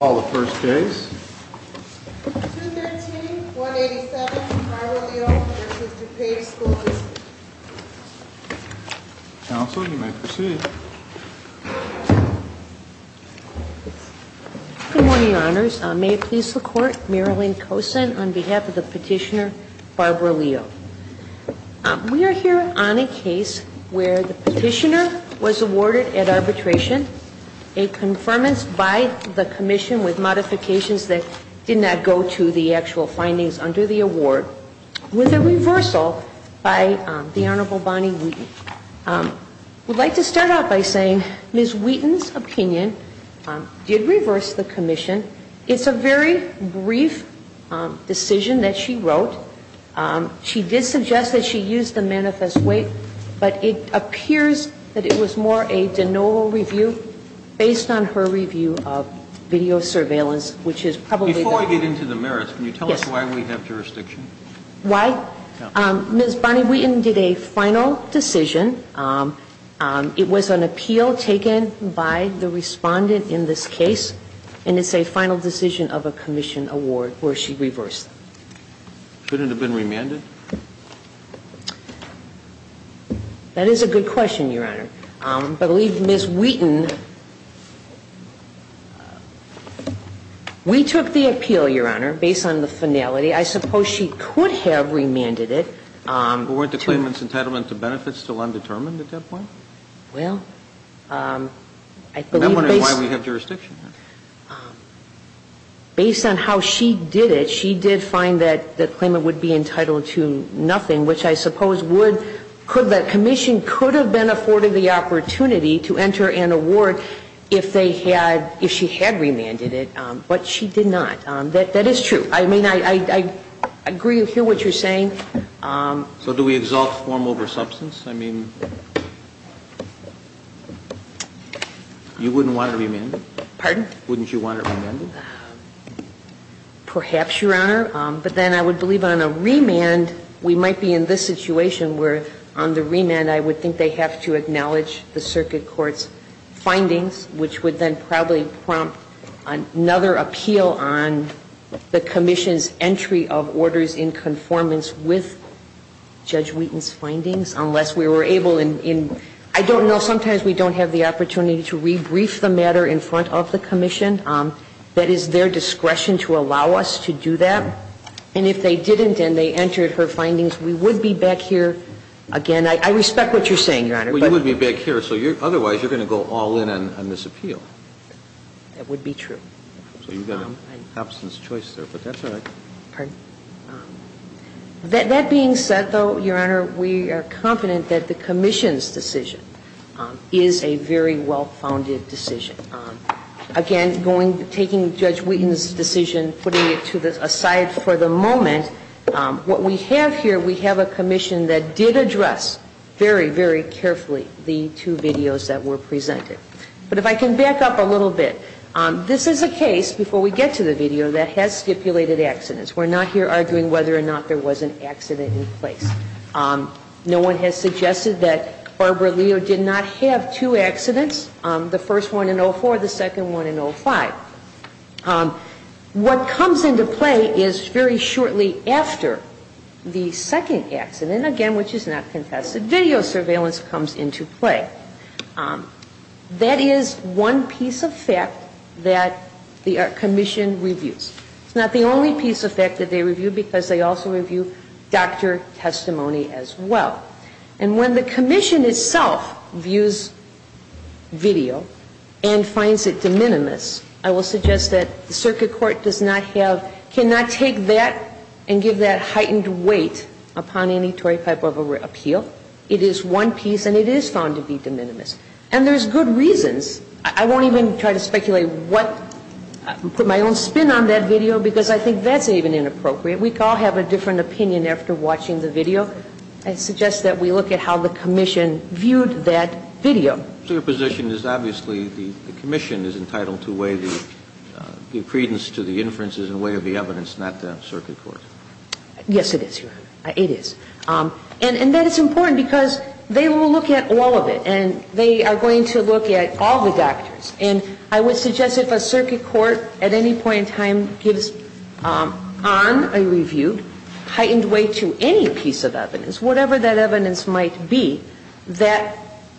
Call the first case. 213-187 Barbara Leo v. DuPage Schools Counsel, you may proceed. Good morning, Your Honors. May it please the Court, Marilyn Kosin on behalf of the petitioner Barbara Leo. We are here on a case where the petitioner was awarded at arbitration a confirmance by the Commission with modifications that did not go to the actual findings under the award with a reversal by the Honorable Bonnie Wheaton. I would like to start out by saying Ms. Wheaton's opinion did reverse the Commission. It's a very brief decision that she wrote. She did suggest that she used the manifest weight, but it appears that it was more a de novo review based on her review of video surveillance, which is probably the Before I get into the merits, can you tell us why we have jurisdiction? Why? Ms. Bonnie Wheaton did a final decision. It was an appeal taken by the Respondent in this case, and it's a final decision of a Commission award where she reversed. Should it have been remanded? That is a good question, Your Honor. I believe Ms. Wheaton We took the appeal, Your Honor, based on the finality. I suppose she could have remanded it. But weren't the claimant's entitlement to benefits still undetermined at that point? Well, I believe based on I'm wondering why we have jurisdiction. Based on how she did it, she did find that the claimant would be entitled to nothing, which I suppose would The Commission could have been afforded the opportunity to enter an award if they had, if she had remanded it. But she did not. That is true. I mean, I agree to hear what you're saying. So do we exalt form over substance? I mean, you wouldn't want to remand it? Pardon? Wouldn't you want it remanded? Perhaps, Your Honor. But then I would believe on a remand, we might be in this situation where on the remand I would think they have to acknowledge the circuit court's findings, which would then probably prompt another appeal on the Commission's entry of orders in conformance with Judge Wheaton's findings, unless we were able in I don't know. Sometimes we don't have the opportunity to rebrief the matter in front of the Commission. That is their discretion to allow us to do that. And if they didn't and they entered her findings, we would be back here again. I respect what you're saying, Your Honor. Well, you would be back here, so otherwise you're going to go all in on this appeal. That would be true. So you've got an absence of choice there, but that's all right. Pardon? That being said, though, Your Honor, we are confident that the Commission's decision is a very well-founded decision. Again, taking Judge Wheaton's decision, putting it to the side for the moment, what we have here, we have a Commission that did address very, very carefully the two videos that were presented. But if I can back up a little bit, this is a case, before we get to the video, that has stipulated accidents. We're not here arguing whether or not there was an accident in place. No one has suggested that Barbara Leo did not have two accidents, the first one in 04, the second one in 05. What comes into play is very shortly after the second accident, again which is not contested, video surveillance comes into play. That is one piece of fact that the Commission reviews. It's not the only piece of fact that they review, because they also review doctor testimony as well. And when the Commission itself views video and finds it de minimis, I will suggest that the circuit court does not have, cannot take that and give that heightened weight upon any Torrey Piper appeal. It is one piece, and it is found to be de minimis. And there's good reasons. I won't even try to speculate what, put my own spin on that video, because I think that's even inappropriate. We all have a different opinion after watching the video. I suggest that we look at how the Commission viewed that video. So your position is obviously the Commission is entitled to weigh the credence to the inferences in the way of the evidence, not the circuit court? Yes, it is, Your Honor. It is. And that is important, because they will look at all of it. And they are going to look at all the doctors. And I would suggest if a circuit court at any point in time gives on a reviewed heightened weight to any piece of evidence, whatever that evidence might be, that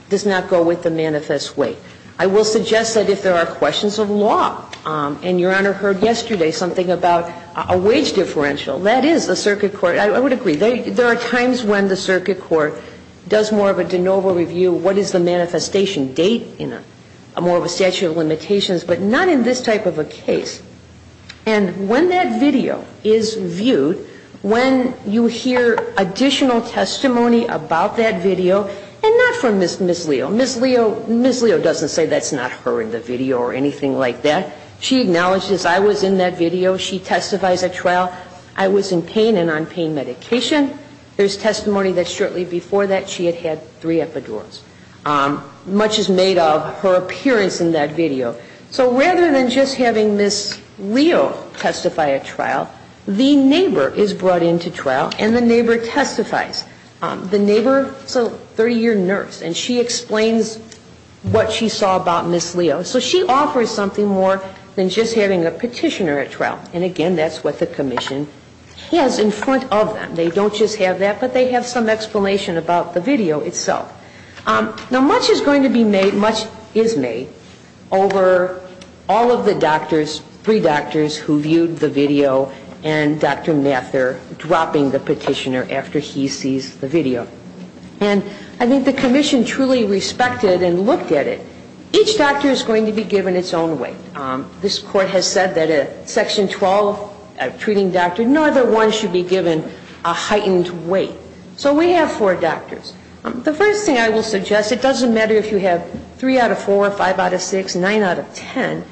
does not go with the manifest weight. I will suggest that if there are questions of law, and Your Honor heard yesterday something about a wage differential, that is the circuit court, I would agree. There are times when the circuit court does more of a de novo review, what is the manifestation date in a more of a statute of limitations, but not in this type of a case. And when that video is viewed, when you hear additional testimony about that video, and not from Ms. Leo. Ms. Leo doesn't say that's not her in the video or anything like that. She acknowledges I was in that video. She testifies at trial. I was in pain and on pain medication. There is testimony that shortly before that she had had three epidurals. Much is made of her appearance in that video. So rather than just having Ms. Leo testify at trial, the neighbor is brought into trial and the neighbor testifies. The neighbor is a 30-year nurse and she explains what she saw about Ms. Leo. So she offers something more than just having a petitioner at trial. And, again, that's what the commission has in front of them. They don't just have that, but they have some explanation about the video itself. Now, much is going to be made, much is made, over all of the doctors, three doctors who viewed the video and Dr. Mather dropping the petitioner after he sees the video. And I think the commission truly respected and looked at it. Each doctor is going to be given its own weight. This Court has said that in Section 12 of treating doctors, no other one should be given a heightened weight. So we have four doctors. The first thing I will suggest, it doesn't matter if you have three out of four, five out of six, nine out of ten.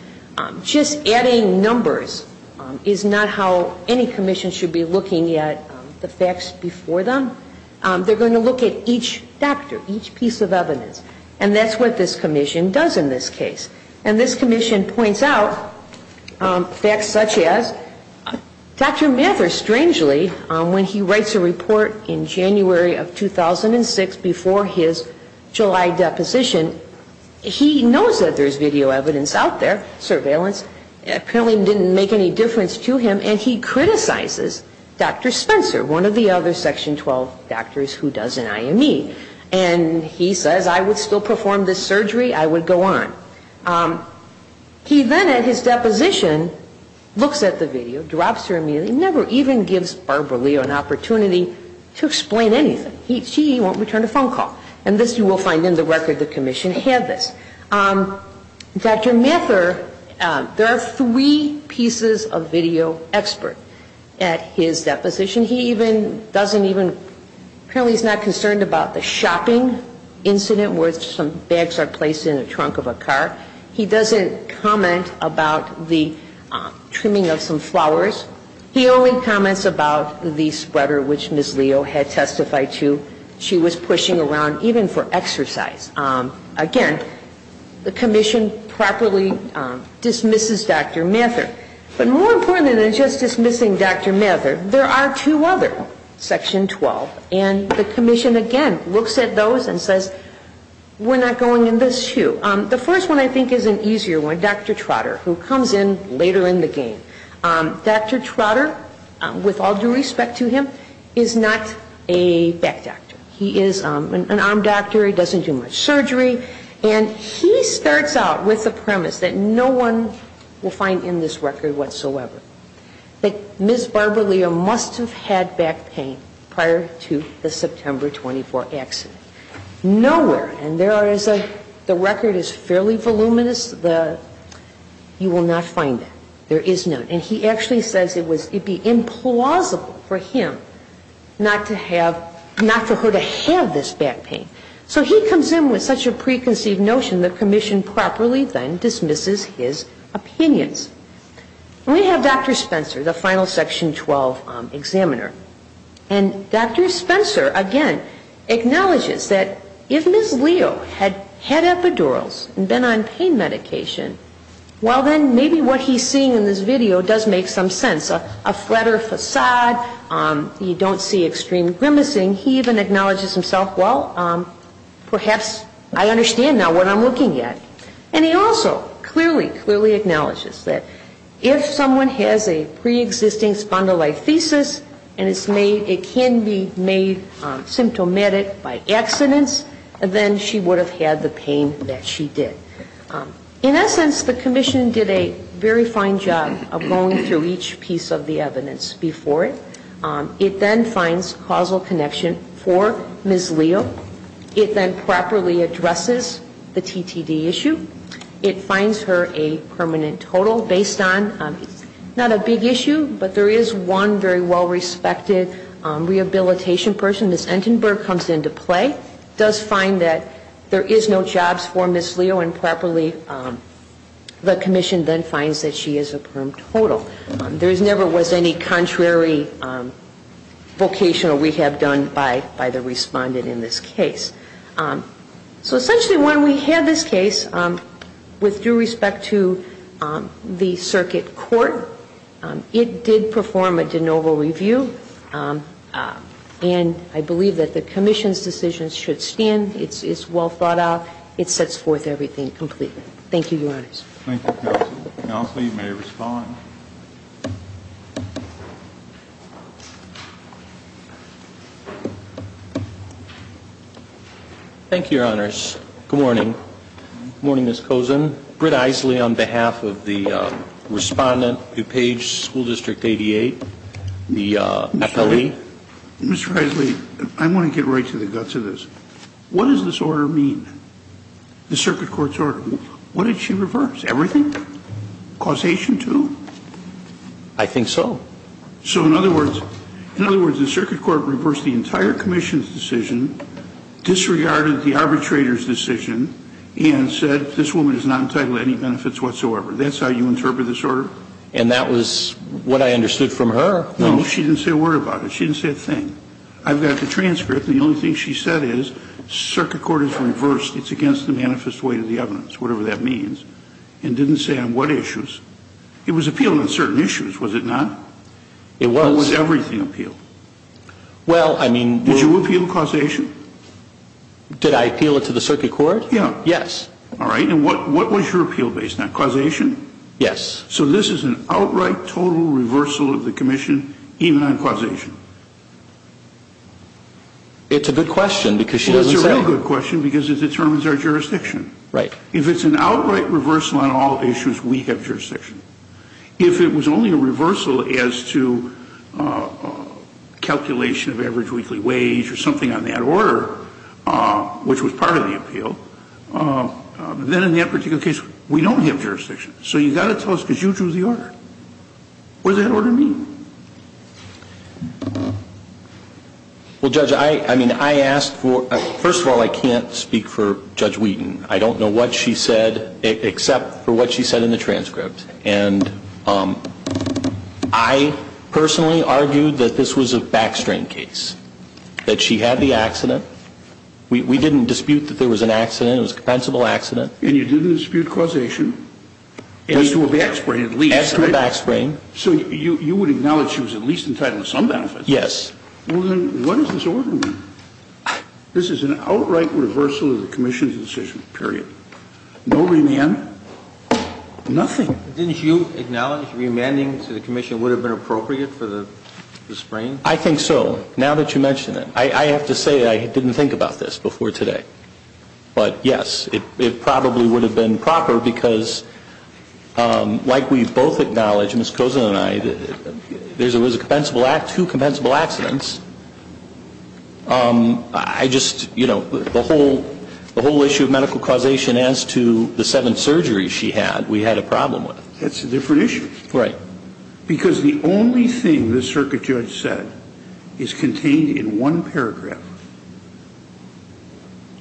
Just adding numbers is not how any commission should be looking at the facts before them. They're going to look at each doctor, each piece of evidence. And that's what this commission does in this case. And this commission points out facts such as Dr. Mather, strangely, when he writes a report in January of 2006 before his July deposition, he knows that there's video evidence out there, surveillance. Apparently it didn't make any difference to him. And he criticizes Dr. Spencer, one of the other Section 12 doctors who does an IME. And he says, I would still perform this surgery, I would go on. He then, at his deposition, looks at the video, drops her immediately, never even gives Barbara Leo an opportunity to explain anything. She won't return a phone call. And this you will find in the record the commission had this. Dr. Mather, there are three pieces of video expert at his deposition. He even doesn't even, apparently he's not concerned about the shopping incident where some bags are placed in the trunk of a car. He doesn't comment about the trimming of some flowers. He only comments about the spreader which Ms. Leo had testified to. She was pushing around even for exercise. Again, the commission properly dismisses Dr. Mather. But more important than just dismissing Dr. Mather, there are two other Section 12. And the commission, again, looks at those and says, we're not going in this shoe. The first one I think is an easier one, Dr. Trotter, who comes in later in the game. Dr. Trotter, with all due respect to him, is not a back doctor. He is an arm doctor. He doesn't do much surgery. And he starts out with a premise that no one will find in this record whatsoever, that Ms. Barbara Leo must have had back pain prior to the September 24 accident. Nowhere, and there are, the record is fairly voluminous, you will not find that. There is none. And he actually says it would be implausible for him not to have, not for her to have this back pain. So he comes in with such a preconceived notion, the commission properly then dismisses his opinions. We have Dr. Spencer, the final Section 12 examiner. And Dr. Spencer, again, acknowledges that if Ms. Leo had had epidurals and been on pain medication, well, then maybe what he's seeing in this video does make some sense. A flatter facade, you don't see extreme grimacing. He even acknowledges himself, well, perhaps I understand now what I'm looking at. And he also clearly, clearly acknowledges that if someone has a preexisting spondylolisthesis and it can be made symptomatic by accidents, then she would have had the pain that she did. In essence, the commission did a very fine job of going through each piece of the evidence before it. It then finds causal connection for Ms. Leo. It then properly addresses the TTD issue. It finds her a permanent total based on not a big issue, but there is one very well-respected rehabilitation person. Ms. Entenberg comes into play, does find that there is no jobs for Ms. Leo, and properly the commission then finds that she is a perm total. There never was any contrary vocational rehab done by the respondent in this case. So essentially when we had this case, with due respect to the circuit court, it did perform a de novo review. And I believe that the commission's decision should stand. It's well thought out. It sets forth everything completely. Thank you, Your Honors. Thank you, Counsel. Counsel, you may respond. Thank you, Your Honors. Good morning. Good morning, Ms. Kozin. Britt Eisele on behalf of the respondent, DuPage School District 88, the FLE. Mr. Eisele, I want to get right to the guts of this. What does this order mean, the circuit court's order? What did she reverse? Everything? Causation too? I think so. So in other words, the circuit court reversed the entire commission's decision, disregarded the arbitrator's decision, and said this woman is not entitled to any benefits whatsoever. That's how you interpret this order? And that was what I understood from her. No, she didn't say a word about it. She didn't say a thing. I've got the transcript, and the only thing she said is, it's against the manifest weight of the evidence, whatever that means, and didn't say on what issues. It was appealed on certain issues, was it not? It was. Or was everything appealed? Well, I mean. Did you appeal causation? Did I appeal it to the circuit court? Yes. All right. And what was your appeal based on, causation? Yes. So this is an outright, total reversal of the commission, even on causation? It's a good question, because she doesn't say it. Well, it's a real good question, because it determines our jurisdiction. Right. If it's an outright reversal on all issues, we have jurisdiction. If it was only a reversal as to calculation of average weekly wage or something on that order, which was part of the appeal, then in that particular case, we don't have jurisdiction. So you've got to tell us, because you drew the order. What does that order mean? Well, Judge, I mean, I asked for... First of all, I can't speak for Judge Wheaton. I don't know what she said except for what she said in the transcript. And I personally argued that this was a backstrain case, that she had the accident. We didn't dispute that there was an accident. It was a compensable accident. And you didn't dispute causation as to a backstrain at least. As to a backstrain. So you would acknowledge she was at least entitled to some benefits? Yes. Well, then what does this order mean? This is an outright reversal of the commission's decision, period. No remand? Nothing. Didn't you acknowledge remanding to the commission would have been appropriate for the sprain? I think so, now that you mention it. I have to say I didn't think about this before today. But, yes, it probably would have been proper because, like we both acknowledge, Ms. Kozin and I, there was two compensable accidents. I just, you know, the whole issue of medical causation as to the seven surgeries she had, we had a problem with. That's a different issue. Right. Because the only thing the circuit judge said is contained in one paragraph.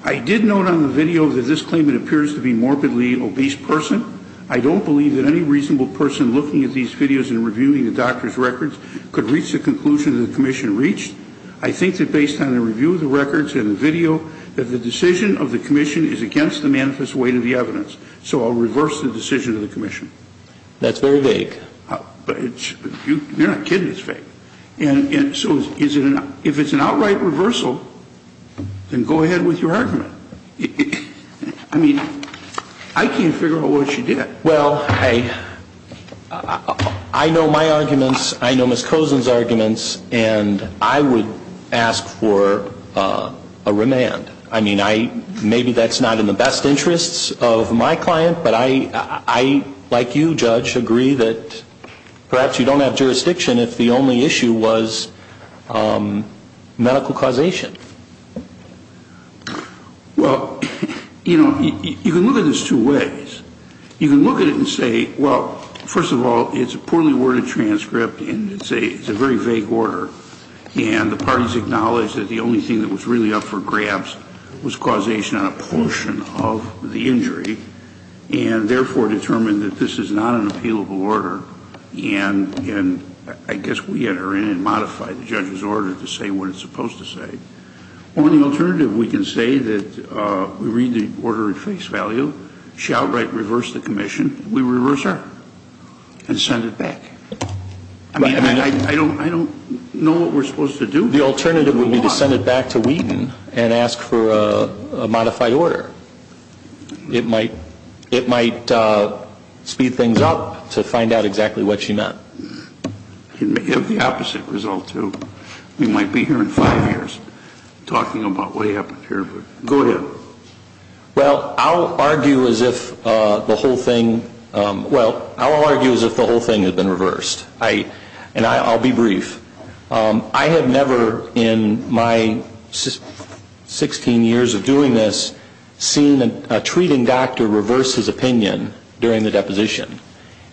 I did note on the video that this claimant appears to be a morbidly obese person. I don't believe that any reasonable person looking at these videos and reviewing the doctor's records could reach the conclusion that the commission reached. I think that based on the review of the records and the video, that the decision of the commission is against the manifest weight of the evidence. So I'll reverse the decision of the commission. That's very vague. You're not kidding, it's vague. So if it's an outright reversal, then go ahead with your argument. I mean, I can't figure out what she did. Well, I know my arguments, I know Ms. Kozin's arguments, and I would ask for a remand. I mean, maybe that's not in the best interests of my client, but I, like you, Judge, agree that perhaps you don't have jurisdiction if the only issue was medical causation. Well, you know, you can look at this two ways. You can look at it and say, well, first of all, it's a poorly worded transcript, and it's a very vague order, and the parties acknowledged that the only thing that was really up for grabs was causation on a portion of the injury, and therefore determined that this is not an appealable order, and I guess we enter in and modify the judge's order to say what it's supposed to say. On the alternative, we can say that we read the order at face value. She outright reversed the commission. We reverse her and send it back. I mean, I don't know what we're supposed to do. The alternative would be to send it back to Wheaton and ask for a modified order. It might speed things up to find out exactly what she meant. It may have the opposite result, too. We might be here in five years talking about what happened here, but go ahead. Well, I'll argue as if the whole thing had been reversed, and I'll be brief. I have never in my 16 years of doing this seen a treating doctor reverse his opinion during the deposition.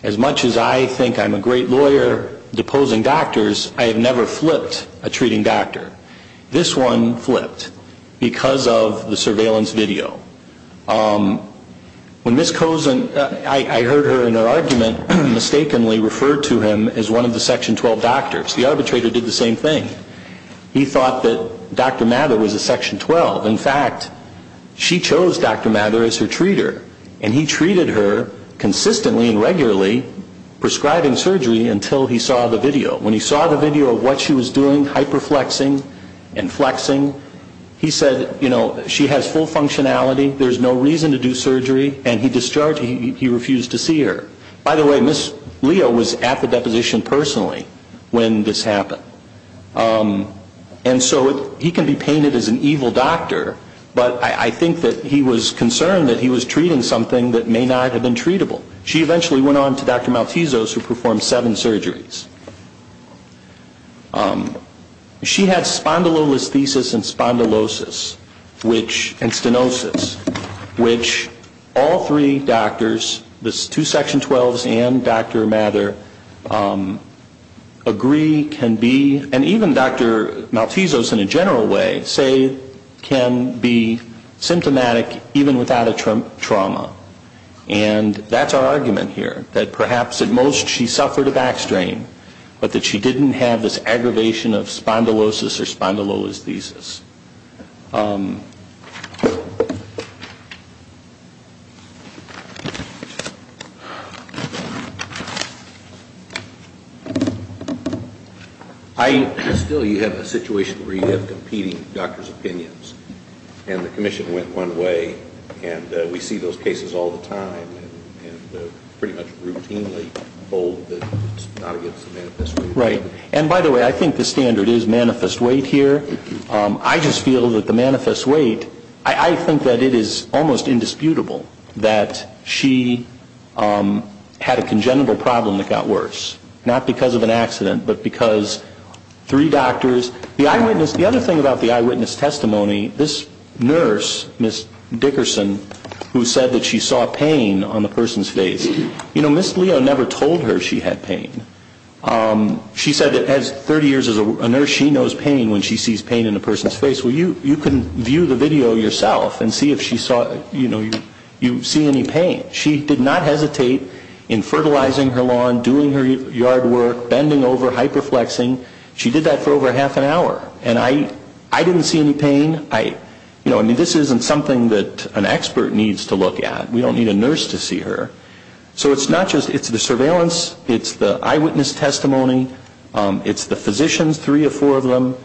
As much as I think I'm a great lawyer deposing doctors, I have never flipped a treating doctor. This one flipped because of the surveillance video. When Ms. Cosen, I heard her in her argument mistakenly refer to him as one of the Section 12 doctors. The arbitrator did the same thing. He thought that Dr. Mather was a Section 12. In fact, she chose Dr. Mather as her treater, and he treated her consistently and regularly prescribing surgery until he saw the video. When he saw the video of what she was doing, hyperflexing and flexing, he said, you know, she has full functionality, there's no reason to do surgery, and he discharged her. He refused to see her. By the way, Ms. Leo was at the deposition personally when this happened. And so he can be painted as an evil doctor, but I think that he was concerned that he was treating something that may not have been treatable. She eventually went on to Dr. Maltesos, who performed seven surgeries. She had spondylolisthesis and spondylosis and stenosis, which all three doctors, the two Section 12s and Dr. Mather, agree can be, and even Dr. Maltesos in a general way, say can be symptomatic even without a trauma. And that's our argument here, that perhaps at most she suffered a back strain, but that she didn't have this aggravation of spondylosis or spondylolisthesis. Still, you have a situation where you have competing doctors' opinions, and the commission went one way and we see those cases all the time and pretty much routinely hold that it's not against the manifest weight. Right. And by the way, I think the standard is manifest weight here. I just feel that the manifest weight, I think that it is almost indisputable that she had a congenital problem that got worse, not because of an accident, but because three doctors. The other thing about the eyewitness testimony, this nurse, Ms. Dickerson, who said that she saw pain on the person's face. You know, Ms. Leo never told her she had pain. She said that 30 years as a nurse, she knows pain when she sees pain in a person's face. Well, you can view the video yourself and see if you see any pain. She did not hesitate in fertilizing her lawn, doing her yard work, bending over, hyperflexing. She did that for over half an hour. And I didn't see any pain. You know, I mean, this isn't something that an expert needs to look at. We don't need a nurse to see her. So it's not just the surveillance. It's the eyewitness testimony. It's the physicians, three or four of them.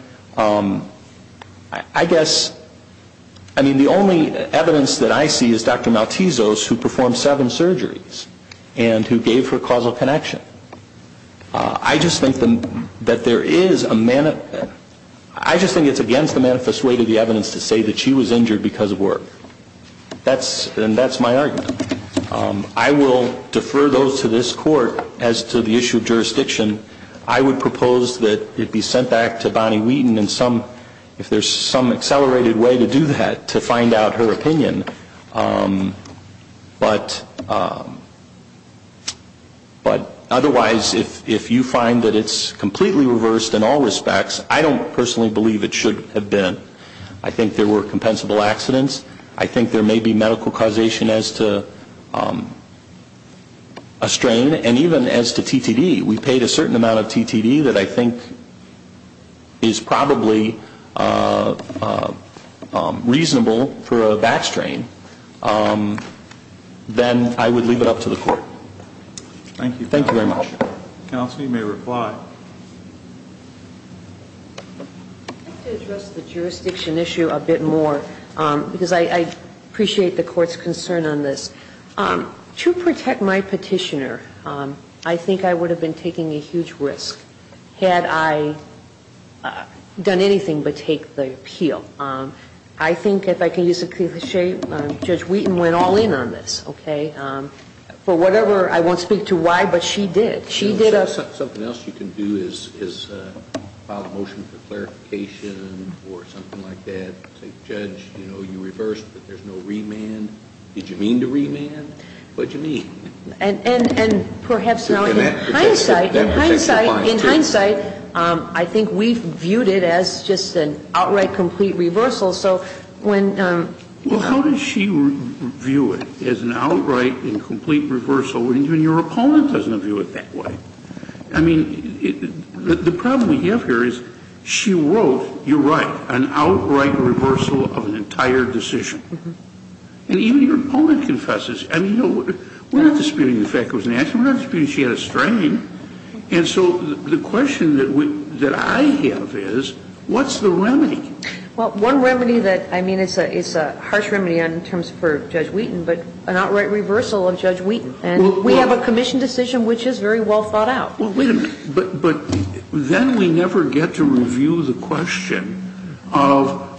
I guess, I mean, the only evidence that I see is Dr. Maltesos, who performed seven surgeries and who gave her causal connection. I just think that there is a manner. I just think it's against the manifest way to the evidence to say that she was injured because of work. And that's my argument. I will defer those to this court as to the issue of jurisdiction. I would propose that it be sent back to Bonnie Wheaton if there's some accelerated way to do that to find out her opinion. But otherwise, if you find that it's completely reversed in all respects, I don't personally believe it should have been. I think there were compensable accidents. I think there may be medical causation as to a strain, and even as to TTD. We paid a certain amount of TTD that I think is probably reasonable for a back strain, then I would leave it up to the court. Thank you. Thank you very much. Counsel, you may reply. I'd like to address the jurisdiction issue a bit more because I appreciate the court's concern on this. To protect my petitioner, I think I would have been taking a huge risk had I done anything but take the appeal. I think, if I can use a cliche, Judge Wheaton went all in on this, okay? For whatever, I won't speak to why, but she did. Something else you can do is file a motion for clarification or something like that. Judge, you know, you reversed, but there's no remand. Did you mean to remand? What did you mean? And perhaps now in hindsight, in hindsight, in hindsight, I think we've viewed it as just an outright complete reversal. So when you know. Well, how does she view it as an outright and complete reversal when your opponent doesn't view it that way? I mean, the problem we have here is she wrote, you're right, an outright reversal of an entire decision. And even your opponent confesses. I mean, we're not disputing the fact it was an accident. We're not disputing she had a strain. And so the question that I have is, what's the remedy? Well, one remedy that, I mean, it's a harsh remedy in terms for Judge Wheaton, but an outright reversal of Judge Wheaton. And we have a commission decision which is very well thought out. Well, wait a minute. But then we never get to review the question of,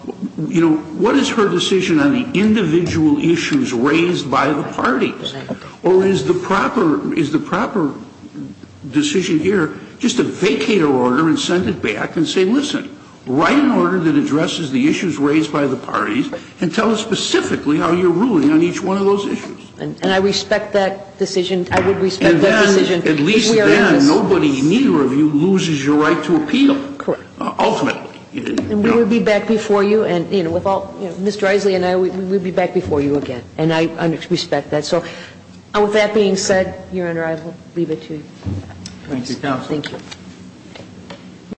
you know, what is her decision on the individual issues raised by the parties? Or is the proper decision here just a vacator order and send it back and say, listen, write an order that addresses the issues raised by the parties and tell us specifically how you're ruling on each one of those issues? And I respect that decision. I would respect that decision. And then, at least then, nobody, neither of you, loses your right to appeal. Correct. Ultimately. And we would be back before you and, you know, with all Mr. Isley and I, we would be back before you again. And I respect that. So with that being said, Your Honor, I will leave it to you. Thank you, counsel. Thank you.